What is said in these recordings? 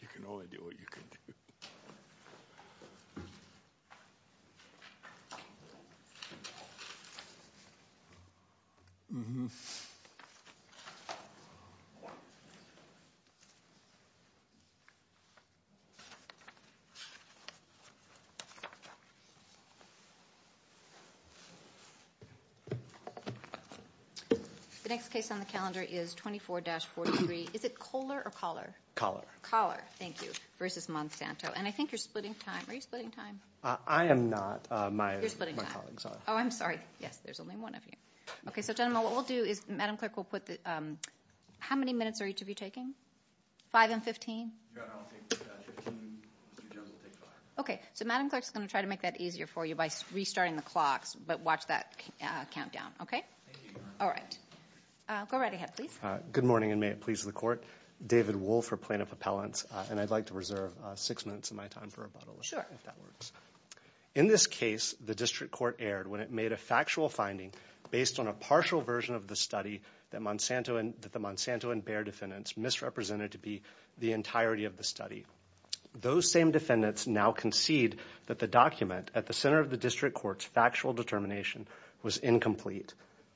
You can only do what you can do. The next case on the calendar is 24-43. Is it Kohler or Collar? Thank you. Versus Monsanto. And I think you're splitting time. Are you splitting time? I am not. My colleagues are. Oh, I'm sorry. Yes, there's only one of you. Okay, so gentlemen, what we'll do is Madam Clerk will put the, how many minutes are each of you taking? Five and 15? Yeah, I'll take 15. Mr. Jones will take five. Okay, so Madam Clerk's going to try to make that easier for you by restarting the clocks, but watch that countdown, okay? Thank you, Your Honor. All right. Go right ahead, please. Good morning, and may it please the Court. David Wolfe for Plaintiff Appellants, and I'd like to reserve six minutes of my time for rebuttal, if that works. Sure. In this case, the District Court erred when it made a factual finding based on a partial version of the study that the Monsanto and Baer defendants misrepresented to be the entirety of the study. Those same defendants now concede that the document at the center of the District Court's factual determination was incomplete.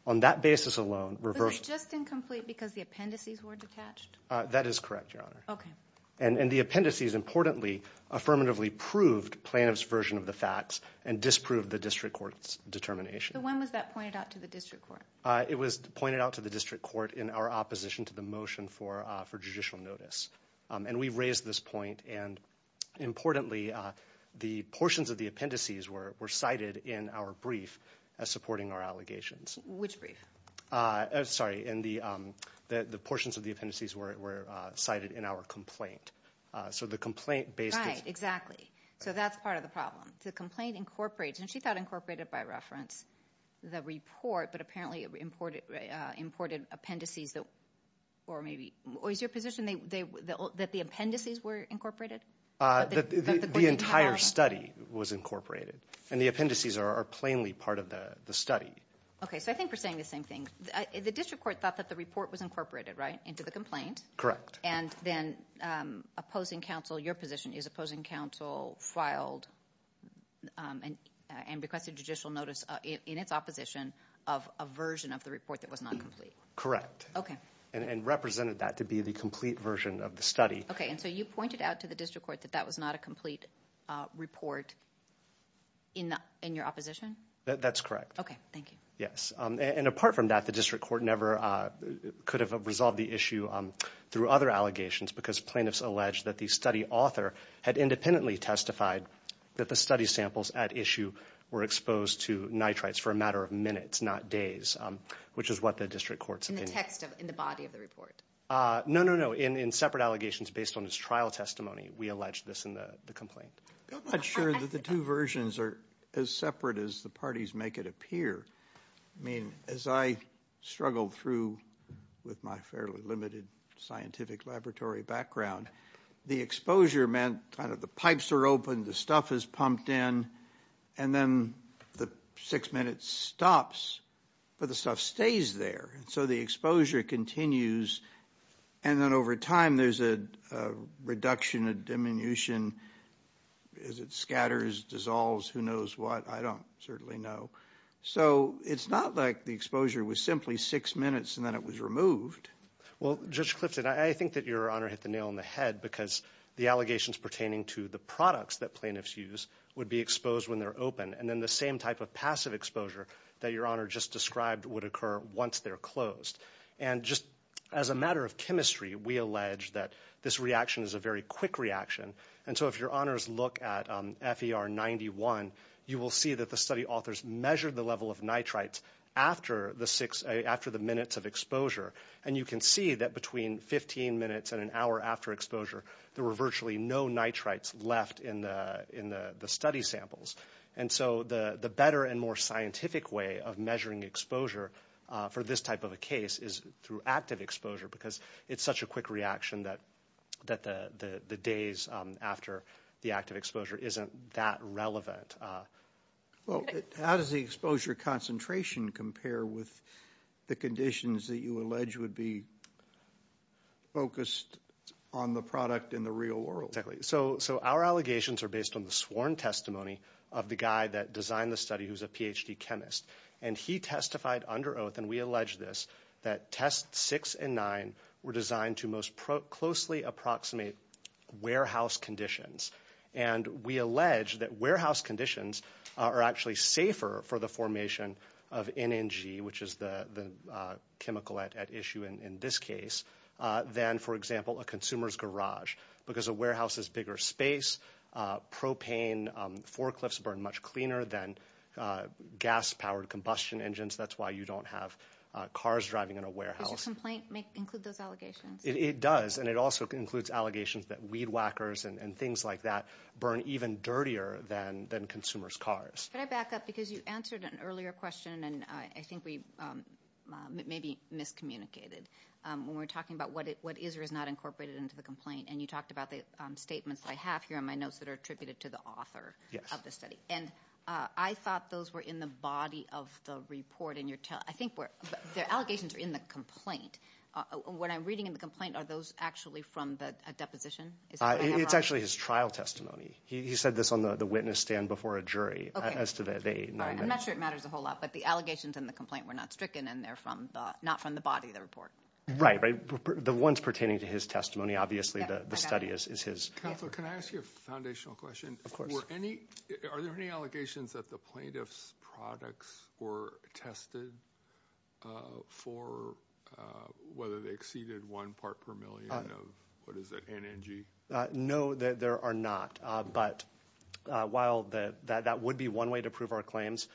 On that basis alone, reversal. Was it just incomplete because the appendices were detached? That is correct, Your Honor. Okay. And the appendices, importantly, affirmatively proved Plaintiff's version of the facts and disproved the District Court's determination. So when was that pointed out to the District Court? It was pointed out to the District Court in our opposition to the motion for judicial notice, and we've raised this point, and importantly, the portions of the appendices were cited in our brief as supporting our allegations. Which brief? Sorry. The portions of the appendices were cited in our complaint. Right. Exactly. So that's part of the problem. The complaint incorporates, and she thought incorporated by reference, the report, but apparently imported appendices. Or is your position that the appendices were incorporated? The entire study was incorporated, and the appendices are plainly part of the study. Okay. So I think we're saying the same thing. The District Court thought that the report was incorporated, right, into the complaint. Correct. And then opposing counsel, your position is opposing counsel filed and requested judicial notice in its opposition of a version of the report that was not complete. Correct. Okay. And represented that to be the complete version of the study. Okay. And so you pointed out to the District Court that that was not a complete report in your opposition? That's correct. Okay. Thank you. And apart from that, the District Court never could have resolved the issue through other allegations, because plaintiffs alleged that the study author had independently testified that the study samples at issue were exposed to nitrites for a matter of minutes, not days, which is what the District Court's opinion is. In the text of, in the body of the report? No, no, no. In separate allegations based on its trial testimony, we alleged this in the complaint. I'm not sure that the two versions are as separate as the parties make it appear. I mean, as I struggled through with my fairly limited scientific laboratory background, the exposure meant kind of the pipes are open, the stuff is pumped in, and then the six minutes stops, but the stuff stays there. And so the exposure continues. And then over time, there's a reduction, a diminution as it scatters, dissolves, who knows what. I don't certainly know. So, it's not like the exposure was simply six minutes and then it was removed. Well, Judge Clifton, I think that Your Honor hit the nail on the head, because the allegations pertaining to the products that plaintiffs use would be exposed when they're open. And then the same type of passive exposure that Your Honor just described would occur once they're closed. And just as a matter of chemistry, we allege that this reaction is a very quick reaction. And so if Your Honors look at FER 91, you will see that the study authors measured the level of nitrites after the minutes of exposure. And you can see that between 15 minutes and an hour after exposure, there were virtually no nitrites left in the study samples. And so the better and more scientific way of measuring exposure for this type of a case is through active exposure, because it's such a quick reaction that the days after the active exposure isn't that relevant. Well, how does the exposure concentration compare with the conditions that you allege would be focused on the product in the real world? Exactly. So our allegations are based on the sworn testimony of the guy that designed the study who's a PhD chemist. And he testified under oath, and we allege this, that tests six and nine were designed to most closely approximate warehouse conditions. And we allege that warehouse conditions are actually safer for the formation of NNG, which is the chemical at issue in this case, than, for example, a consumer's garage. Because a warehouse is bigger space, propane forklifts burn much cleaner than gas-powered combustion engines. That's why you don't have cars driving in a warehouse. Does your complaint include those allegations? It does. And it also includes allegations that weed whackers and things like that burn even dirtier than consumers' cars. Can I back up? Because you answered an earlier question, and I think we maybe miscommunicated when we were talking about what is or is not incorporated into the complaint. And you talked about the statements I have here in my notes that are attributed to the author of the study. And I thought those were in the body of the report. I think the allegations are in the complaint. What I'm reading in the complaint, are those actually from a deposition? It's actually his trial testimony. He said this on the witness stand before a jury. I'm not sure it matters a whole lot, but the allegations in the complaint were not stricken, and they're not from the body of the report. Right. The ones pertaining to his testimony, obviously, the study is his. Counsel, can I ask you a foundational question? Of course. Are there any allegations that the plaintiff's products were tested for whether they exceeded one part per million of, what is it, NNG? No, there are not. But while that would be one way to prove our claims,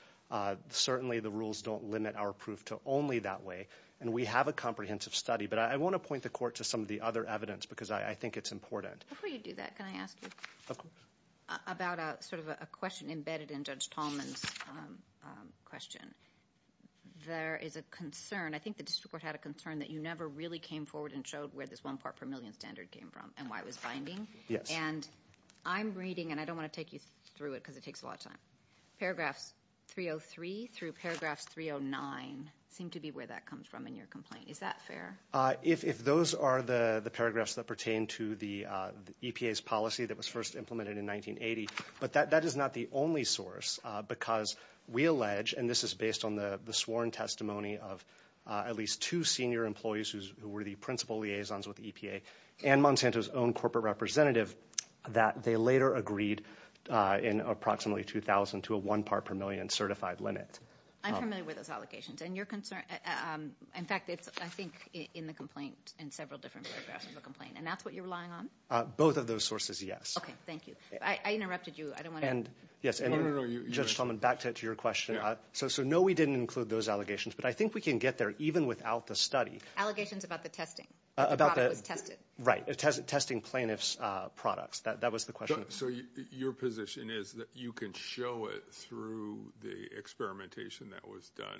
certainly the rules don't limit our proof to only that way. And we have a comprehensive study, but I want to point the court to some of the other evidence because I think it's important. Before you do that, can I ask you about a question embedded in Judge Tallman's question? There is a concern, I think the district court had a concern, that you never really came forward and showed where this one part per million standard came from and why it was Yes. And I'm reading, and I don't want to take you through it because it takes a lot of time, Paragraphs 303 through Paragraphs 309 seem to be where that comes from in your complaint. Is that fair? If those are the paragraphs that pertain to the EPA's policy that was first implemented in 1980, but that is not the only source because we allege, and this is based on the sworn testimony of at least two senior employees who were the principal liaisons with EPA and Monsanto's own corporate representative, that they later agreed in approximately 2000 to a one part per million certified limit. I'm familiar with those allegations. And your concern, in fact, I think it's in the complaint, in several different paragraphs of the complaint. And that's what you're relying on? Both of those sources, yes. Okay, thank you. I interrupted you. I don't want to... No, no, no. Judge Tallman, back to your question. So no, we didn't include those allegations, but I think we can get there even without the study. Allegations about the testing? About the... Right. Testing plaintiff's products. That was the question. So your position is that you can show it through the experimentation that was done?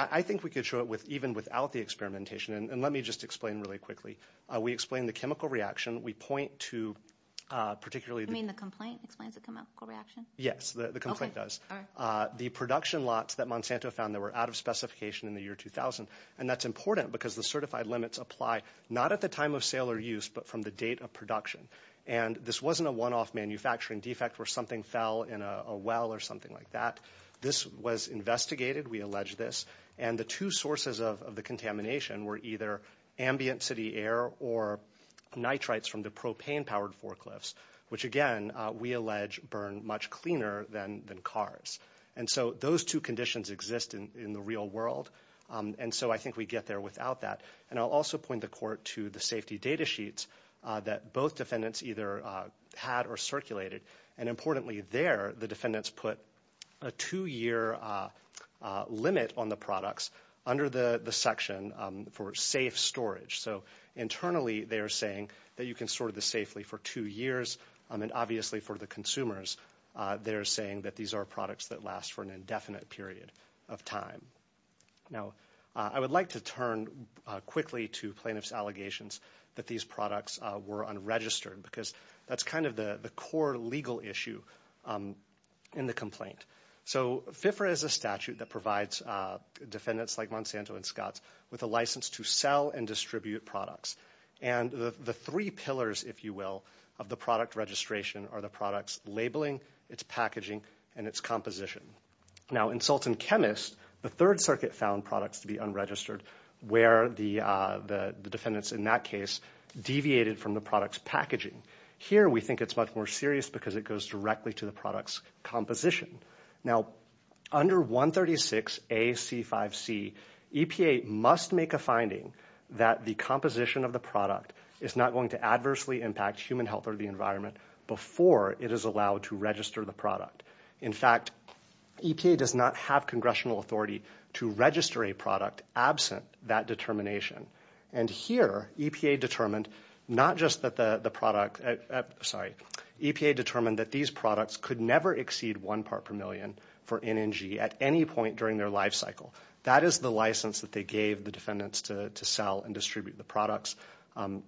I think we could show it even without the experimentation. And let me just explain really quickly. We explain the chemical reaction. We point to particularly... You mean the complaint explains the chemical reaction? Yes, the complaint does. Okay, all right. The production lots that Monsanto found that were out of specification in the year 2000, and that's important because the certified limits apply not at the time of sale or use, but from the date of production. And this wasn't a one-off manufacturing defect where something fell in a well or something like that. This was investigated, we allege this, and the two sources of the contamination were either ambient city air or nitrites from the propane-powered forklifts, which again, we allege burn much cleaner than cars. And so those two conditions exist in the real world. And so I think we get there without that. And I'll also point the court to the safety data sheets that both defendants either had or circulated. And importantly there, the defendants put a two-year limit on the products under the section for safe storage. So internally, they're saying that you can store this safely for two years. And obviously for the consumers, they're saying that these are products that last for an Now, I would like to turn quickly to plaintiff's allegations that these products were unregistered because that's kind of the core legal issue in the complaint. So FIFRA is a statute that provides defendants like Monsanto and Scotts with a license to sell and distribute products. And the three pillars, if you will, of the product registration are the product's labeling, its packaging, and its composition. Now, in Sultan Chemist, the Third Circuit found products to be unregistered where the defendants in that case deviated from the product's packaging. Here, we think it's much more serious because it goes directly to the product's composition. Now, under 136 AC5C, EPA must make a finding that the composition of the product is not going to adversely impact human health or the environment before it is allowed to register the product. In fact, EPA does not have congressional authority to register a product absent that determination. And here, EPA determined not just that the product – sorry – EPA determined that these products could never exceed one part per million for NNG at any point during their life cycle. That is the license that they gave the defendants to sell and distribute the products. And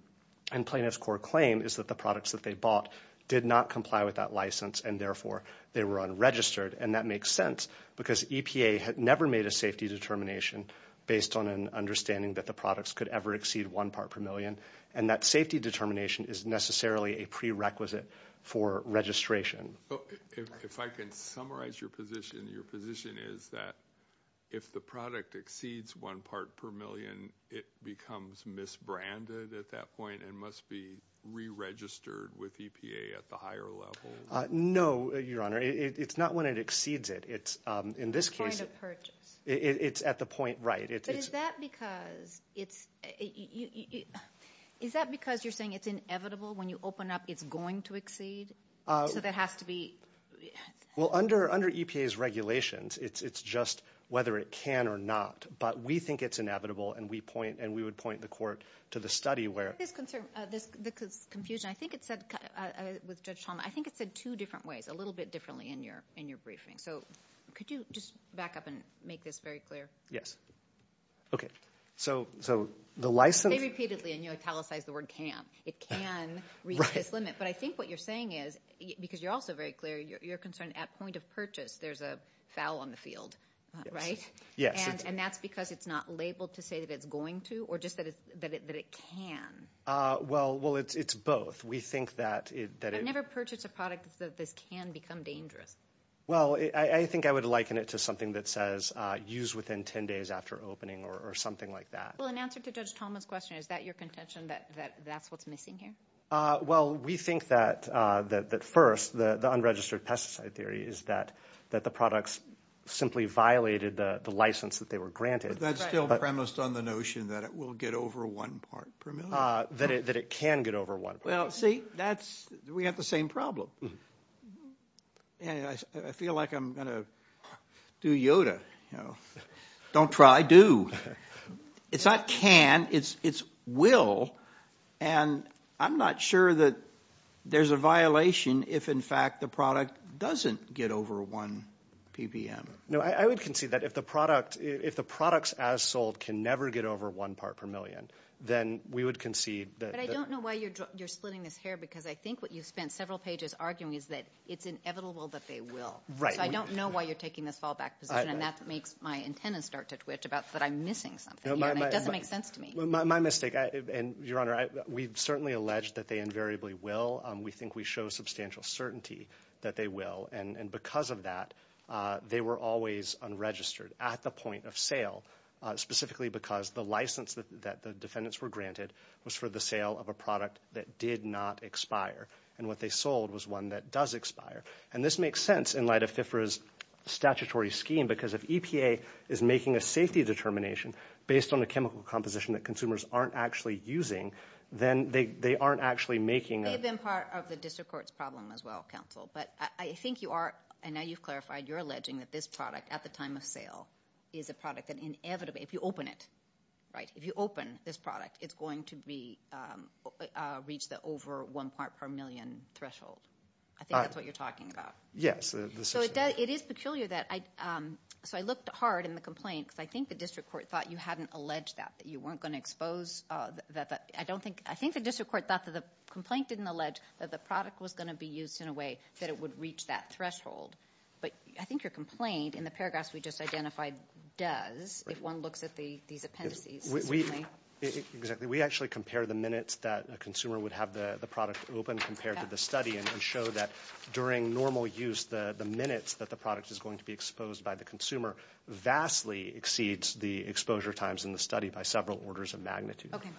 plaintiff's core claim is that the products that they bought did not comply with that they were unregistered. And that makes sense because EPA had never made a safety determination based on an understanding that the products could ever exceed one part per million. And that safety determination is necessarily a prerequisite for registration. If I can summarize your position, your position is that if the product exceeds one part per million, it becomes misbranded at that point and must be re-registered with EPA at the higher level. No, Your Honor. It's not when it exceeds it. It's – in this case – At the point of purchase. It's at the point, right. But is that because it's – is that because you're saying it's inevitable when you open up it's going to exceed? So that has to be – Well, under EPA's regulations, it's just whether it can or not. But we think it's inevitable and we point – and we would point the court to the study where – I get this confusion. I think it said – with Judge Chalmers – I think it said two different ways, a little bit differently in your briefing. So could you just back up and make this very clear? Yes. Okay. So the license – Say repeatedly and you italicize the word can. It can reach this limit. But I think what you're saying is – because you're also very clear – you're concerned at point of purchase there's a foul on the field, right? Yes. Yes. And that's because it's not labeled to say that it's going to or just that it can Well, it's both. We think that it – I've never purchased a product that says this can become dangerous. Well, I think I would liken it to something that says use within 10 days after opening or something like that. Well, in answer to Judge Chalmers' question, is that your contention that that's what's missing here? Well, we think that first the unregistered pesticide theory is that the products simply violated the license that they were granted. But that's still premised on the notion that it will get over one part per million. That it can get over one part per million. Well, see, that's – we have the same problem. I feel like I'm going to do Yoda. Don't try, do. It's not can. It's will. And I'm not sure that there's a violation if, in fact, the product doesn't get over one PPM. No, I would concede that if the product – if the products as sold can never get over one part per million, then we would concede that – But I don't know why you're splitting this hair, because I think what you've spent several pages arguing is that it's inevitable that they will. Right. So I don't know why you're taking this fallback position, and that makes my antenna start to twitch about that I'm missing something here, and it doesn't make sense to me. Well, my mistake – and, Your Honor, we've certainly alleged that they invariably will. We think we show substantial certainty that they will. And because of that, they were always unregistered at the point of sale, specifically because the license that the defendants were granted was for the sale of a product that did not expire, and what they sold was one that does expire. And this makes sense in light of FIFRA's statutory scheme, because if EPA is making a safety determination based on a chemical composition that consumers aren't actually using, then they aren't actually making a – It may have been part of the district court's problem as well, counsel, but I think you are – and now you've clarified – you're alleging that this product at the time of sale is a product that inevitably – if you open it, right, if you open this product, it's going to be – reach the over one part per million threshold. I think that's what you're talking about. Yes. So it is peculiar that – so I looked hard in the complaint, because I think the district court thought you hadn't alleged that, that you weren't going to expose – I don't think – I think the district court thought that the complaint didn't allege that the product was going to be used in a way that it would reach that threshold. But I think your complaint in the paragraphs we just identified does, if one looks at these appendices. We – exactly. We actually compare the minutes that a consumer would have the product open compared to the study and show that during normal use, the minutes that the product is going to be exposed by the consumer vastly exceeds the exposure times in the study by several orders of magnitude. Okay.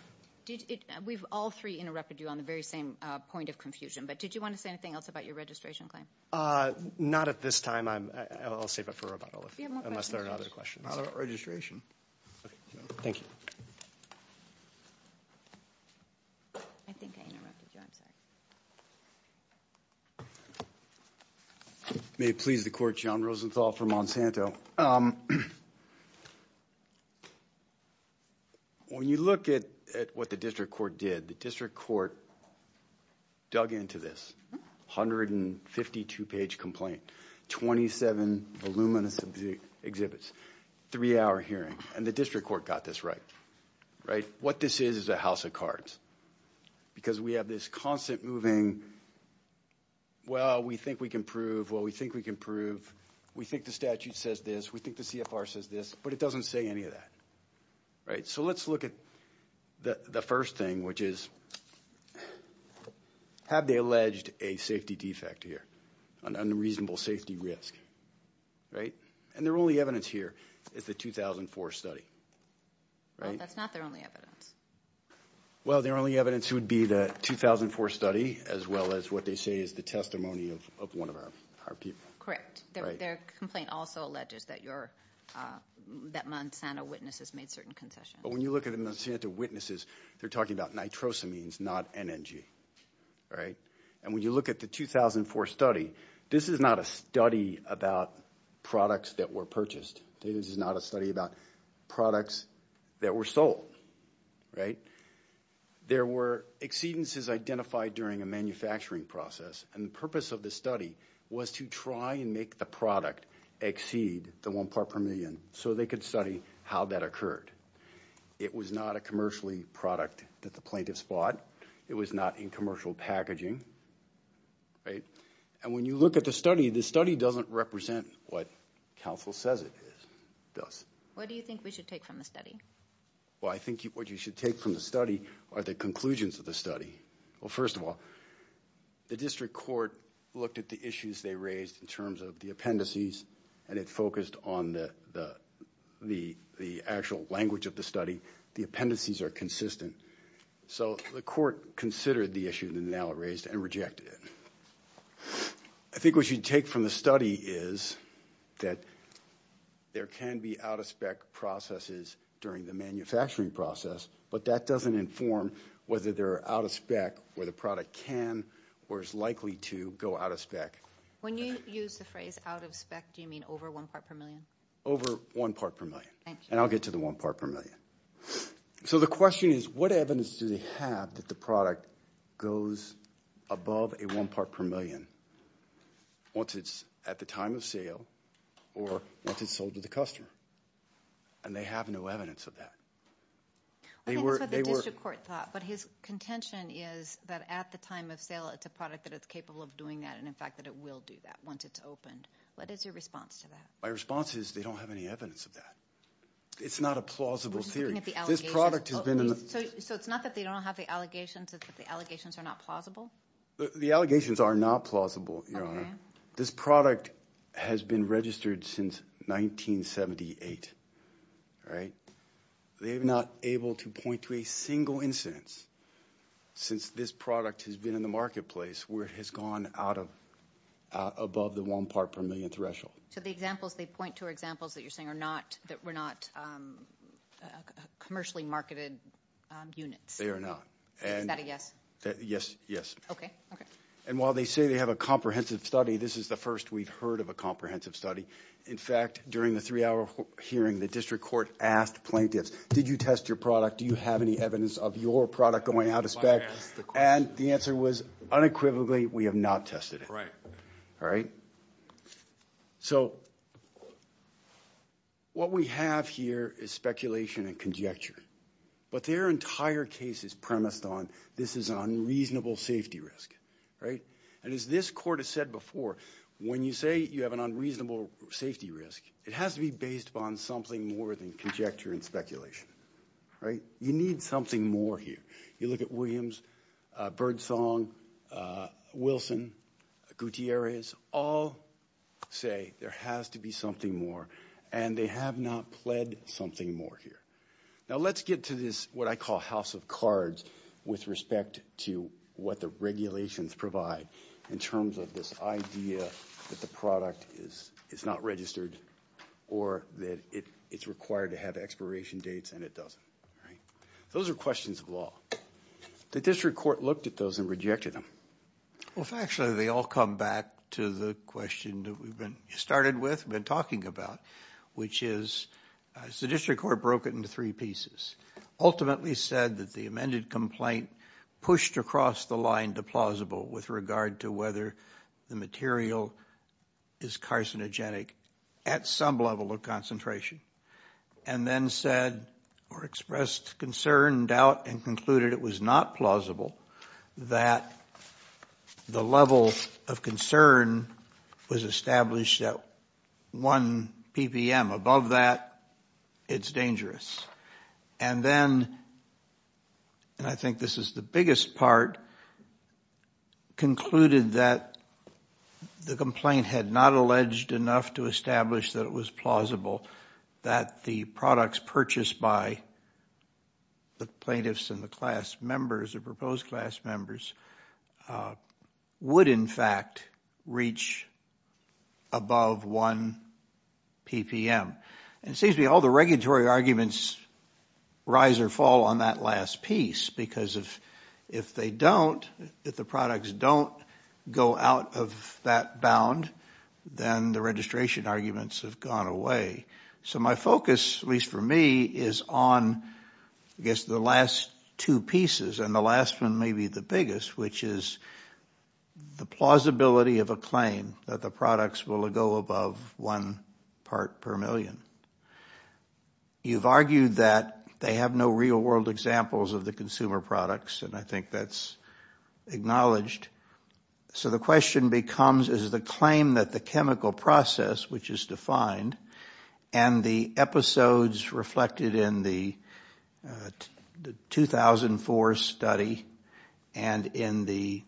We've all three interrupted you on the very same point of confusion, but did you want to say anything else about your registration claim? Not at this time. I'll save it for rebuttal, unless there are other questions. Not about registration. Okay. Thank you. I think I interrupted you. I'm sorry. May it please the Court, John Rosenthal for Monsanto. When you look at what the district court did, the district court dug into this 152-page complaint, 27 voluminous exhibits, three-hour hearing, and the district court got this right. Right? What this is is a house of cards because we have this constant moving, well, we think we can prove. Well, we think we can prove. We think the statute says this. We think the CFR says this, but it doesn't say any of that. Right? So let's look at the first thing, which is, have they alleged a safety defect here, an unreasonable safety risk? Right? And their only evidence here is the 2004 study. Right? Well, that's not their only evidence. Well, their only evidence would be the 2004 study, as well as what they say is the testimony of one of our people. Correct. Their complaint also alleges that Monsanto witnesses made certain concessions. But when you look at the Monsanto witnesses, they're talking about nitrosamines, not NNG. Right? And when you look at the 2004 study, this is not a study about products that were purchased. This is not a study about products that were sold. Right? There were exceedances identified during a manufacturing process, and the purpose of the study was to try and make the product exceed the one part per million, so they could study how that occurred. It was not a commercially product that the plaintiffs bought. It was not in commercial packaging. Right? And when you look at the study, the study doesn't represent what counsel says it does. What do you think we should take from the study? Well, I think what you should take from the study are the conclusions of the study. Well, first of all, the district court looked at the issues they raised in terms of the appendices, and it focused on the actual language of the study. The appendices are consistent. So the court considered the issue that they now raised and rejected it. I think what you should take from the study is that there can be out-of-spec processes during the manufacturing process, but that doesn't inform whether they're out-of-spec or the product can or is likely to go out-of-spec. When you use the phrase out-of-spec, do you mean over one part per million? Over one part per million. And I'll get to the one part per million. So the question is, what evidence do they have that the product goes above a one part per million once it's at the time of sale or once it's sold to the customer? And they have no evidence of that. I think that's what the district court thought, but his contention is that at the time of sale, it's a product that is capable of doing that, and in fact that it will do that once it's opened. What is your response to that? My response is they don't have any evidence of that. It's not a plausible theory. We're just looking at the allegations. So it's not that they don't have the allegations. It's that the allegations are not plausible? The allegations are not plausible, Your Honor. This product has been registered since 1978, right? They're not able to point to a single incidence since this product has been in the marketplace where it has gone out of, above the one part per million threshold. So the examples they point to are examples that you're saying are not, that were not commercially marketed units? They are not. Is that a yes? Yes, yes. Okay, okay. And while they say they have a comprehensive study, this is the first we've heard of a comprehensive study. In fact, during the three-hour hearing, the district court asked plaintiffs, did you test your product? Do you have any evidence of your product going out of spec? And the answer was, unequivocally, we have not tested it. All right? So what we have here is speculation and conjecture. But their entire case is premised on, this is an unreasonable safety risk. Right? And as this court has said before, when you say you have an unreasonable safety risk, it has to be based upon something more than conjecture and speculation. Right? You need something more here. You look at Williams, Birdsong, Wilson, Gutierrez, all say there has to be something more. And they have not pled something more here. Now, let's get to this, what I call house of cards, with respect to what the regulations provide in terms of this idea that the product is not registered or that it's required to have expiration dates and it doesn't. Right? Those are questions of law. The district court looked at those and rejected them. Well, factually, they all come back to the question that we've been, started with, been Ultimately said that the amended complaint pushed across the line to plausible with regard to whether the material is carcinogenic at some level of concentration. And then said, or expressed concern, doubt, and concluded it was not plausible that the level of concern was established at 1 ppm. Above that, it's dangerous. And then, and I think this is the biggest part, concluded that the complaint had not alleged enough to establish that it was plausible that the products purchased by the plaintiffs and the class members, the proposed class members, would in fact reach above 1 ppm. And it seems to me all the regulatory arguments rise or fall on that last piece. Because if they don't, if the products don't go out of that bound, then the registration arguments have gone away. So my focus, at least for me, is on I guess the last two pieces, and the last one may be the biggest, which is the plausibility of a claim that the products will go above 1 ppm. You've argued that they have no real world examples of the consumer products, and I think that's acknowledged. So the question becomes, is the claim that the chemical process, which is defined, and the episodes reflected in the 2004 study and in the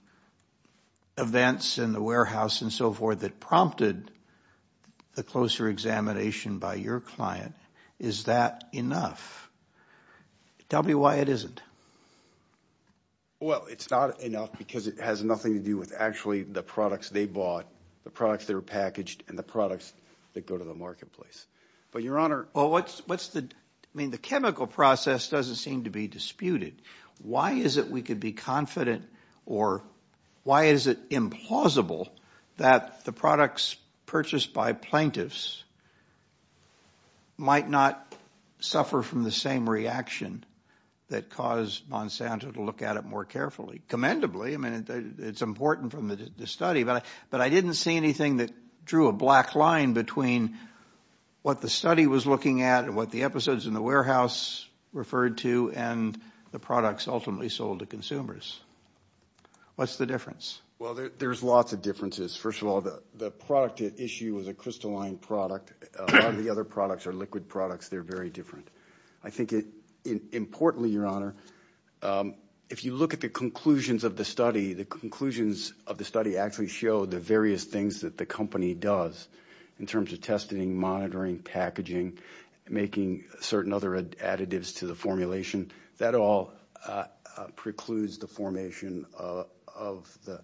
events in the warehouse and so forth that prompted the closer examination by your client, is that enough? Tell me why it isn't. Well, it's not enough because it has nothing to do with actually the products they bought, the products that are packaged, and the products that go to the marketplace. But Your Honor... Well, what's the... I mean, the chemical process doesn't seem to be disputed. Why is it we could be confident, or why is it implausible that the products purchased by plaintiffs might not suffer from the same reaction that caused Monsanto to look at it more carefully? Commendably, I mean, it's important from the study, but I didn't see anything that drew a black line between what the study was looking at and what the episodes in the warehouse referred to and the products ultimately sold to consumers. What's the difference? Well, there's lots of differences. First of all, the product at issue is a crystalline product. A lot of the other products are liquid products. They're very different. I think importantly, Your Honor, if you look at the conclusions of the study, the conclusions of the study actually show the various things that the company does in terms of testing, monitoring, packaging, making certain other additives to the formulation. That all precludes the formation of the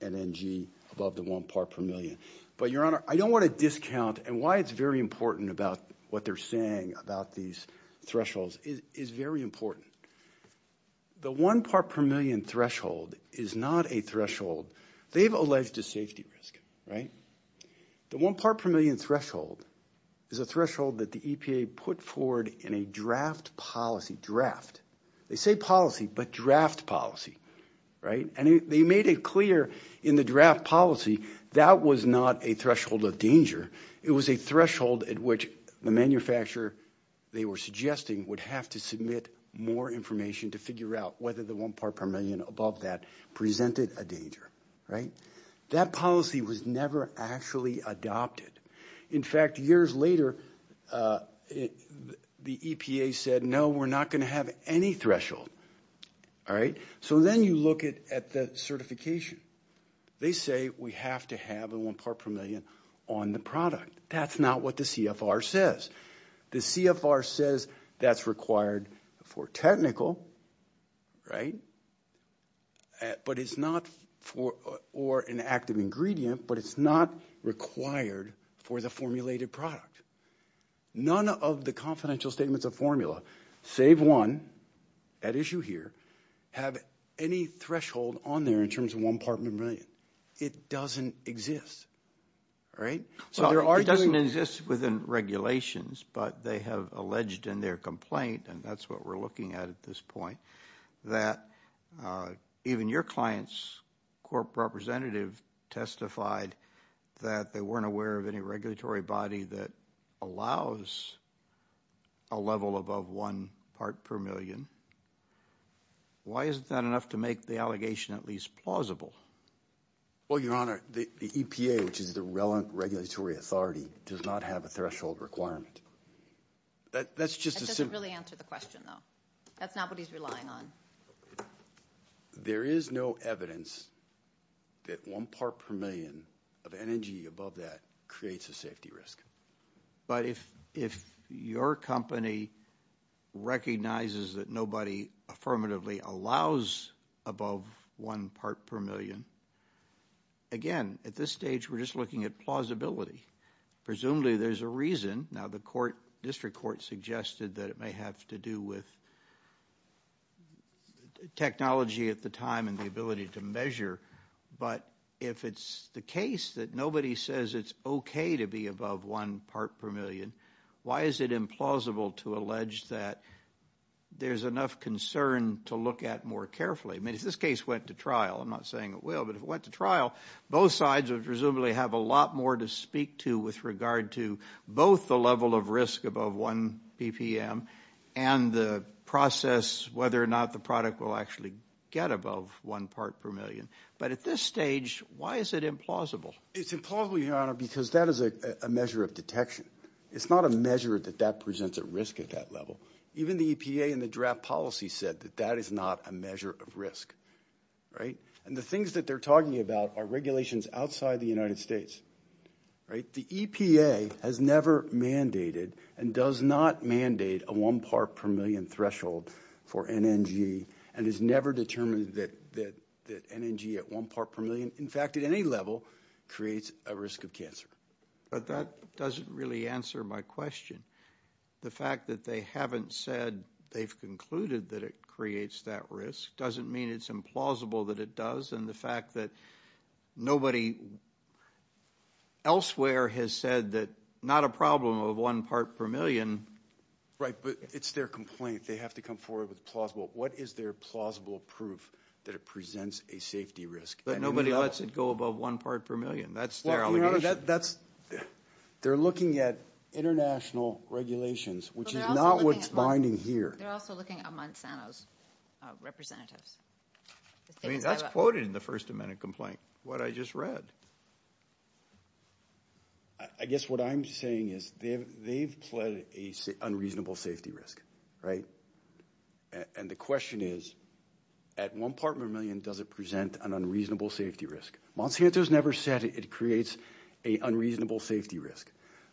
NNG above the one part per million. But, Your Honor, I don't want to discount, and why it's very important about what they're saying about these thresholds is very important. The one part per million threshold is not a threshold. They've alleged a safety risk, right? The one part per million threshold is a threshold that the EPA put forward in a draft policy, draft. They say policy, but draft policy, right? And they made it clear in the draft policy that was not a threshold of danger. It was a threshold at which the manufacturer, they were suggesting, would have to submit more information to figure out whether the one part per million above that presented a danger, right? That policy was never actually adopted. In fact, years later, the EPA said, no, we're not going to have any threshold, all right? So then you look at the certification. They say we have to have a one part per million on the product. That's not what the CFR says. The CFR says that's required for technical, right? But it's not for an active ingredient, but it's not required for the formulated product. None of the confidential statements of formula, save one at issue here, have any threshold on there in terms of one part per million. It doesn't exist, right? It doesn't exist within regulations, but they have alleged in their complaint, and that's what we're looking at at this point, that even your client's corp representative testified that they weren't aware of any regulatory body that allows a level above one part per million. Why isn't that enough to make the allegation at least plausible? Well, Your Honor, the EPA, which is the relevant regulatory authority, does not have a threshold requirement. That doesn't really answer the question, though. That's not what he's relying on. There is no evidence that one part per million of energy above that creates a safety risk. But if your company recognizes that nobody affirmatively allows above one part per million, again, at this stage we're just looking at plausibility. Presumably there's a reason. Now, the district court suggested that it may have to do with technology at the time and the ability to measure. But if it's the case that nobody says it's okay to be above one part per million, why is it implausible to allege that there's enough concern to look at more carefully? I mean, if this case went to trial, I'm not saying it will, but if it went to trial, both sides would presumably have a lot more to speak to with regard to both the level of risk above one BPM and the process whether or not the product will actually get above one part per million. But at this stage, why is it implausible? It's implausible, Your Honor, because that is a measure of detection. It's not a measure that that presents a risk at that level. Even the EPA in the draft policy said that that is not a measure of risk. And the things that they're talking about are regulations outside the United States. The EPA has never mandated and does not mandate a one part per million threshold for NNG and has never determined that NNG at one part per million, in fact, at any level, creates a risk of cancer. But that doesn't really answer my question. The fact that they haven't said they've concluded that it creates that risk doesn't mean it's implausible that it does, and the fact that nobody elsewhere has said that not a problem of one part per million. Right, but it's their complaint. They have to come forward with plausible. What is their plausible proof that it presents a safety risk? But nobody lets it go above one part per million. That's their allegation. Well, Your Honor, they're looking at international regulations, which is not what's binding here. They're also looking at Monsanto's representatives. I mean, that's quoted in the first amendment complaint, what I just read. I guess what I'm saying is they've pledged an unreasonable safety risk, right? And the question is, at one part per million, does it present an unreasonable safety risk? Monsanto's never said it creates an unreasonable safety risk.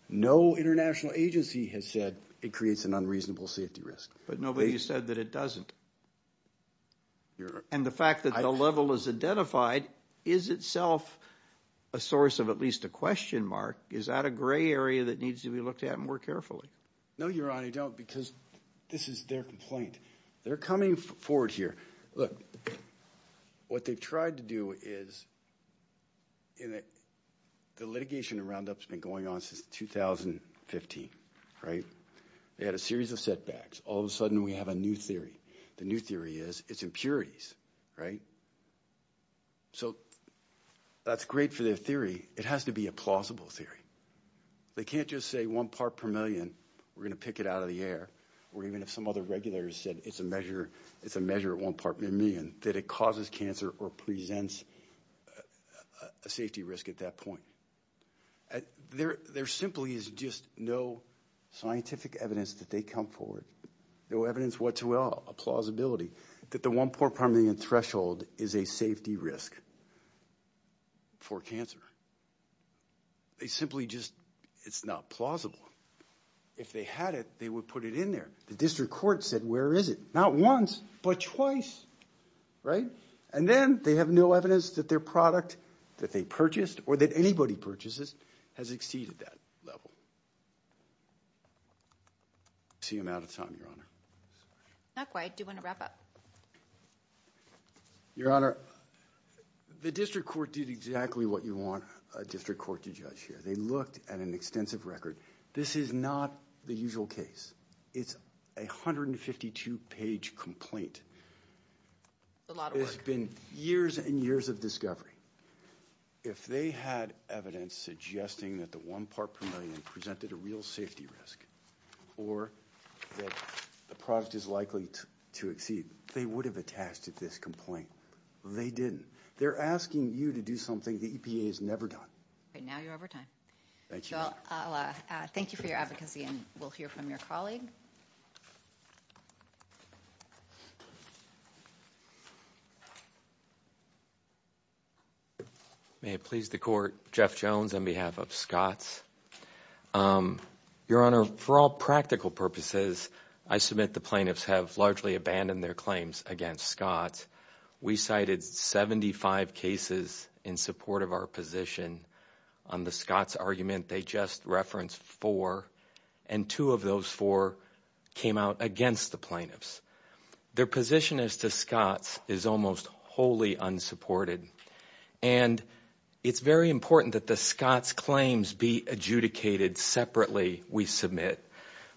No international agency has said it creates an unreasonable safety risk. But nobody's said that it doesn't. And the fact that the level is identified is itself a source of at least a question mark. Is that a gray area that needs to be looked at more carefully? No, Your Honor, I don't, because this is their complaint. They're coming forward here. Look, what they've tried to do is the litigation around that's been going on since 2015, right? They had a series of setbacks. All of a sudden, we have a new theory. The new theory is it's impurities, right? So that's great for their theory. It has to be a plausible theory. They can't just say one part per million, we're going to pick it out of the air, or even if some other regulators said it's a measure at one part per million, that it causes cancer or presents a safety risk at that point. There simply is just no scientific evidence that they come forward, no evidence whatsoever, a plausibility, that the one part per million threshold is a safety risk for cancer. They simply just, it's not plausible. If they had it, they would put it in there. The district court said, where is it? Not once, but twice, right? And then they have no evidence that their product that they purchased or that anybody purchases has exceeded that level. I see I'm out of time, Your Honor. Not quite. Do you want to wrap up? Your Honor, the district court did exactly what you want a district court to judge here. They looked at an extensive record. This is not the usual case. It's a 152-page complaint. It's a lot of work. There's been years and years of discovery. If they had evidence suggesting that the one part per million presented a real safety risk or that the product is likely to exceed, they would have attached it to this complaint. They didn't. They're asking you to do something the EPA has never done. All right. Now you're over time. Thank you. Thank you for your advocacy, and we'll hear from your colleague. May it please the Court. Jeff Jones on behalf of SCOTS. Your Honor, for all practical purposes, I submit the plaintiffs have largely abandoned their claims against SCOTS. We cited 75 cases in support of our position on the SCOTS argument. They just referenced four, and two of those four came out against the plaintiffs. Their position as to SCOTS is almost wholly unsupported, and it's very important that the SCOTS claims be adjudicated separately, we submit,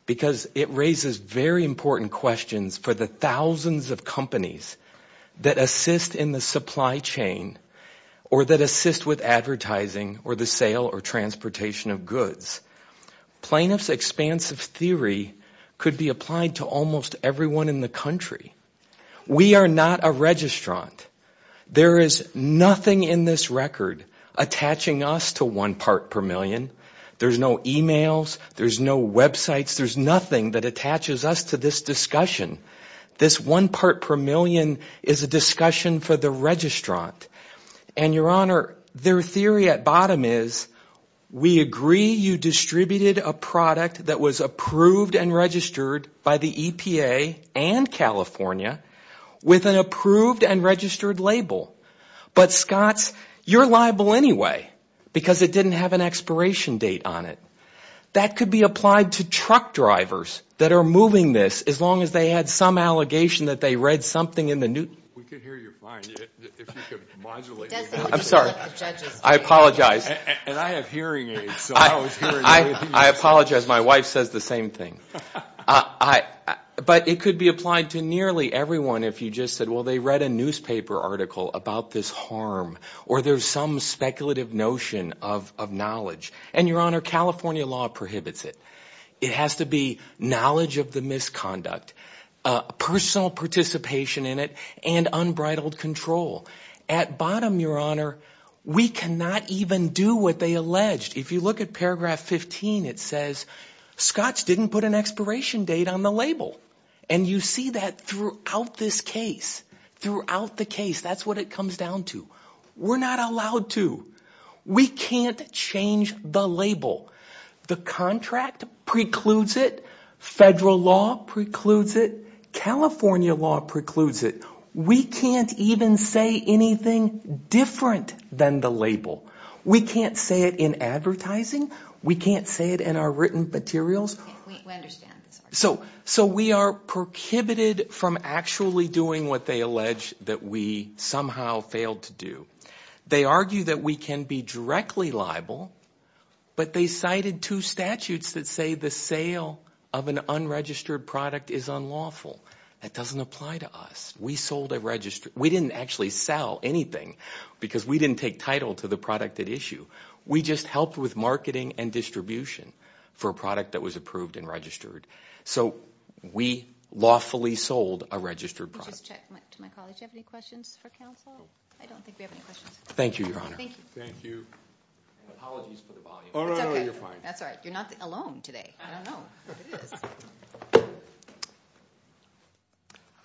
because it raises very important questions for the thousands of companies that assist in the supply chain or that assist with advertising or the sale or transportation of goods. Plaintiffs' expansive theory could be applied to almost everyone in the country. We are not a registrant. There is nothing in this record attaching us to one part per million. There's no emails. There's no websites. There's nothing that attaches us to this discussion. This one part per million is a discussion for the registrant. And, Your Honor, their theory at bottom is, we agree you distributed a product that was approved and registered by the EPA and California with an approved and registered label. But, SCOTS, you're liable anyway because it didn't have an expiration date on it. That could be applied to truck drivers that are moving this as long as they had some allegation that they read something in the news. We could hear you fine if you could modulate. I'm sorry. I apologize. And I have hearing aids, so I was hearing you. I apologize. My wife says the same thing. But it could be applied to nearly everyone if you just said, well, they read a newspaper article about this harm or there's some speculative notion of knowledge. And, Your Honor, California law prohibits it. It has to be knowledge of the misconduct, personal participation in it, and unbridled control. At bottom, Your Honor, we cannot even do what they alleged. If you look at paragraph 15, it says, SCOTS didn't put an expiration date on the label. And you see that throughout this case, throughout the case, that's what it comes down to. We're not allowed to. We can't change the label. The contract precludes it. Federal law precludes it. California law precludes it. We can't even say anything different than the label. We can't say it in advertising. We can't say it in our written materials. We understand. So we are prohibited from actually doing what they allege that we somehow failed to do. They argue that we can be directly liable, but they cited two statutes that say the sale of an unregistered product is unlawful. That doesn't apply to us. We didn't actually sell anything because we didn't take title to the product at issue. We just helped with marketing and distribution for a product that was approved and registered. So we lawfully sold a registered product. Let me just check to my colleagues. Do you have any questions for counsel? I don't think we have any questions. Thank you, Your Honor. Thank you. Apologies for the volume. Oh, no, no, you're fine. That's all right. You're not alone today. I don't know. It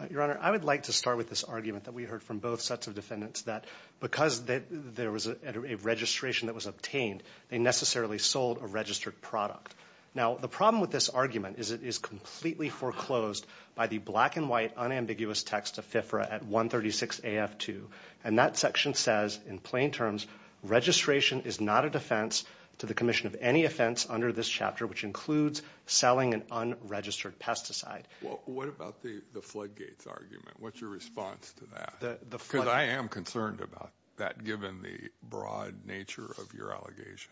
is. Your Honor, I would like to start with this argument that we heard from both sets of defendants that because there was a registration that was obtained, they necessarily sold a registered product. Now, the problem with this argument is it is completely foreclosed by the black and white unambiguous text of FIFRA at 136 AF2. And that section says in plain terms, registration is not a defense to the commission of any offense under this chapter, which includes selling an unregistered pesticide. Well, what about the Floodgates argument? What's your response to that? Because I am concerned about that given the broad nature of your allegation.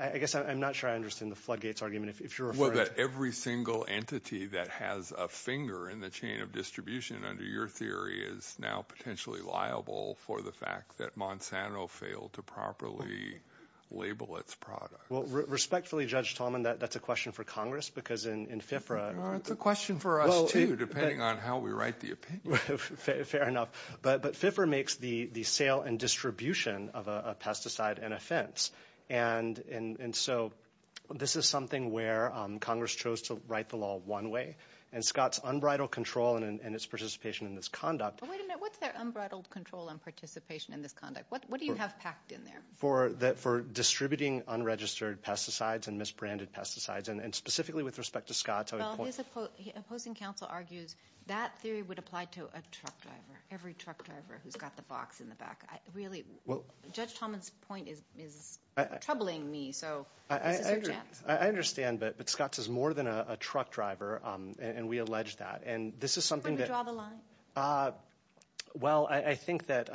I guess I'm not sure I understand the Floodgates argument. Well, that every single entity that has a finger in the chain of distribution under your theory is now potentially liable for the fact that Monsanto failed to properly label its product. Well, respectfully, Judge Tolman, that's a question for Congress because in FIFRA. It's a question for us, too, depending on how we write the opinion. Fair enough. But FIFRA makes the sale and distribution of a pesticide an offense. And so this is something where Congress chose to write the law one way. And Scott's unbridled control and its participation in this conduct. Wait a minute. What's their unbridled control and participation in this conduct? What do you have packed in there? For distributing unregistered pesticides and misbranded pesticides. And specifically with respect to Scott. Well, his opposing counsel argues that theory would apply to a truck driver, every truck driver who's got the box in the back. Judge Tolman's point is troubling me. So I understand. But Scott's is more than a truck driver. And we allege that. And this is something that. Well, I think that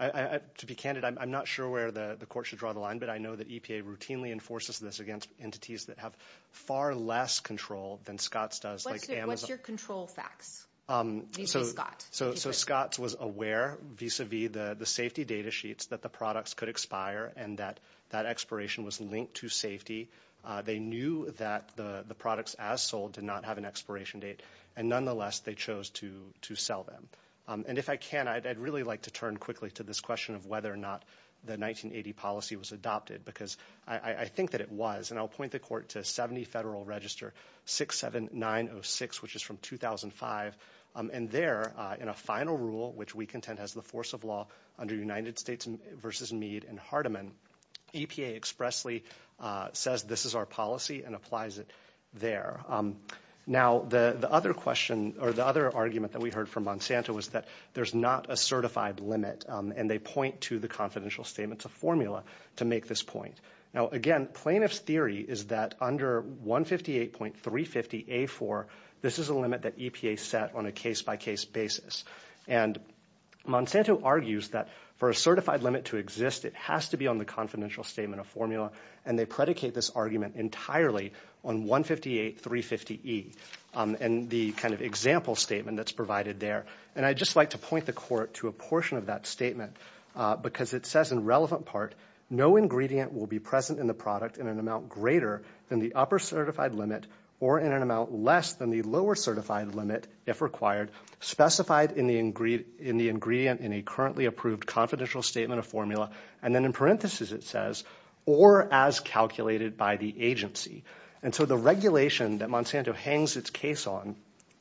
to be candid, I'm not sure where the court should draw the line. But I know that EPA routinely enforces this against entities that have far less control than Scott's does. What's your control facts? So Scott's was aware vis-a-vis the safety data sheets that the products could expire and that that expiration was linked to safety. They knew that the products as sold did not have an expiration date. And nonetheless, they chose to sell them. And if I can, I'd really like to turn quickly to this question of whether or not the 1980 policy was adopted. Because I think that it was. And I'll point the court to 70 Federal Register 67906, which is from 2005. And there, in a final rule, which we contend has the force of law under United States v. Meade and Hardiman, EPA expressly says this is our policy and applies it there. Now, the other question or the other argument that we heard from Monsanto was that there's not a certified limit. And they point to the confidential statements of formula to make this point. Now, again, plaintiff's theory is that under 158.350A4, this is a limit that EPA set on a case-by-case basis. And Monsanto argues that for a certified limit to exist, it has to be on the confidential statement of formula. And they predicate this argument entirely on 158.350E and the kind of example statement that's provided there. And I'd just like to point the court to a portion of that statement because it says in relevant part, no ingredient will be present in the product in an amount greater than the upper certified limit or in an amount less than the lower certified limit, if required, specified in the ingredient in a currently approved confidential statement of formula, and then in parentheses it says, or as calculated by the agency. And so the regulation that Monsanto hangs its case on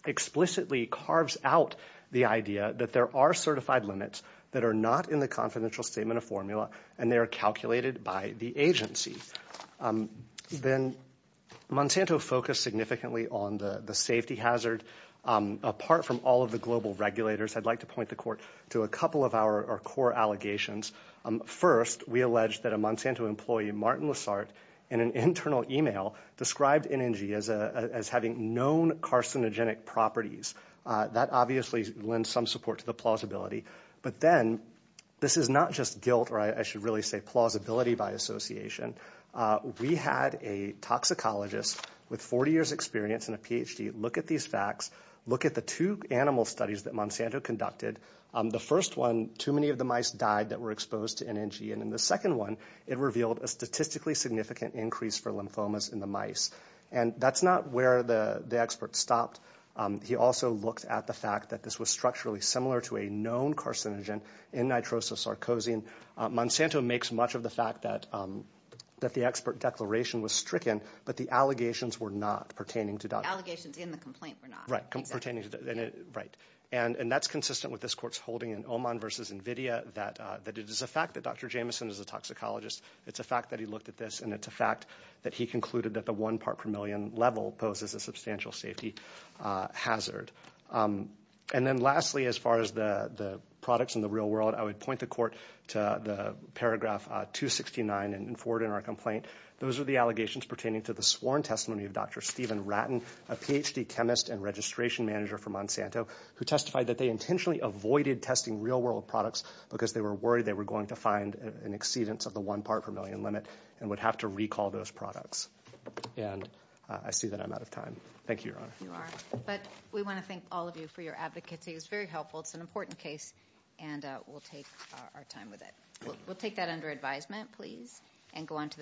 explicitly carves out the idea that there are certified limits that are not in the confidential statement of formula and they are calculated by the agency. Then Monsanto focused significantly on the safety hazard. Apart from all of the global regulators, I'd like to point the court to a couple of our core allegations. First, we allege that a Monsanto employee, Martin Lessart, in an internal e-mail, described NNG as having known carcinogenic properties. That obviously lends some support to the plausibility. But then this is not just guilt, or I should really say plausibility by association. We had a toxicologist with 40 years experience and a PhD look at these facts, look at the two animal studies that Monsanto conducted. The first one, too many of the mice died that were exposed to NNG. And in the second one, it revealed a statistically significant increase for lymphomas in the mice. And that's not where the expert stopped. He also looked at the fact that this was structurally similar to a known carcinogen in nitrososarcosine. Monsanto makes much of the fact that the expert declaration was stricken, but the allegations were not pertaining to that. Allegations in the complaint were not. Right, pertaining to that. Right. And that's consistent with this court's holding in Oman v. NVIDIA, that it is a fact that Dr. Jameson is a toxicologist. It's a fact that he looked at this, and it's a fact that he concluded that the one part per million level poses a substantial safety hazard. And then lastly, as far as the products in the real world, I would point the court to the paragraph 269 and forward in our complaint. Those are the allegations pertaining to the sworn testimony of Dr. Stephen Ratten, a Ph.D. chemist and registration manager for Monsanto, who testified that they intentionally avoided testing real world products because they were worried they were going to find an exceedance of the one part per million limit and would have to recall those products. And I see that I'm out of time. Thank you, Your Honor. You are. But we want to thank all of you for your advocacy. It was very helpful. It's an important case, and we'll take our time with it. We'll take that under advisement, please, and go on to the next case.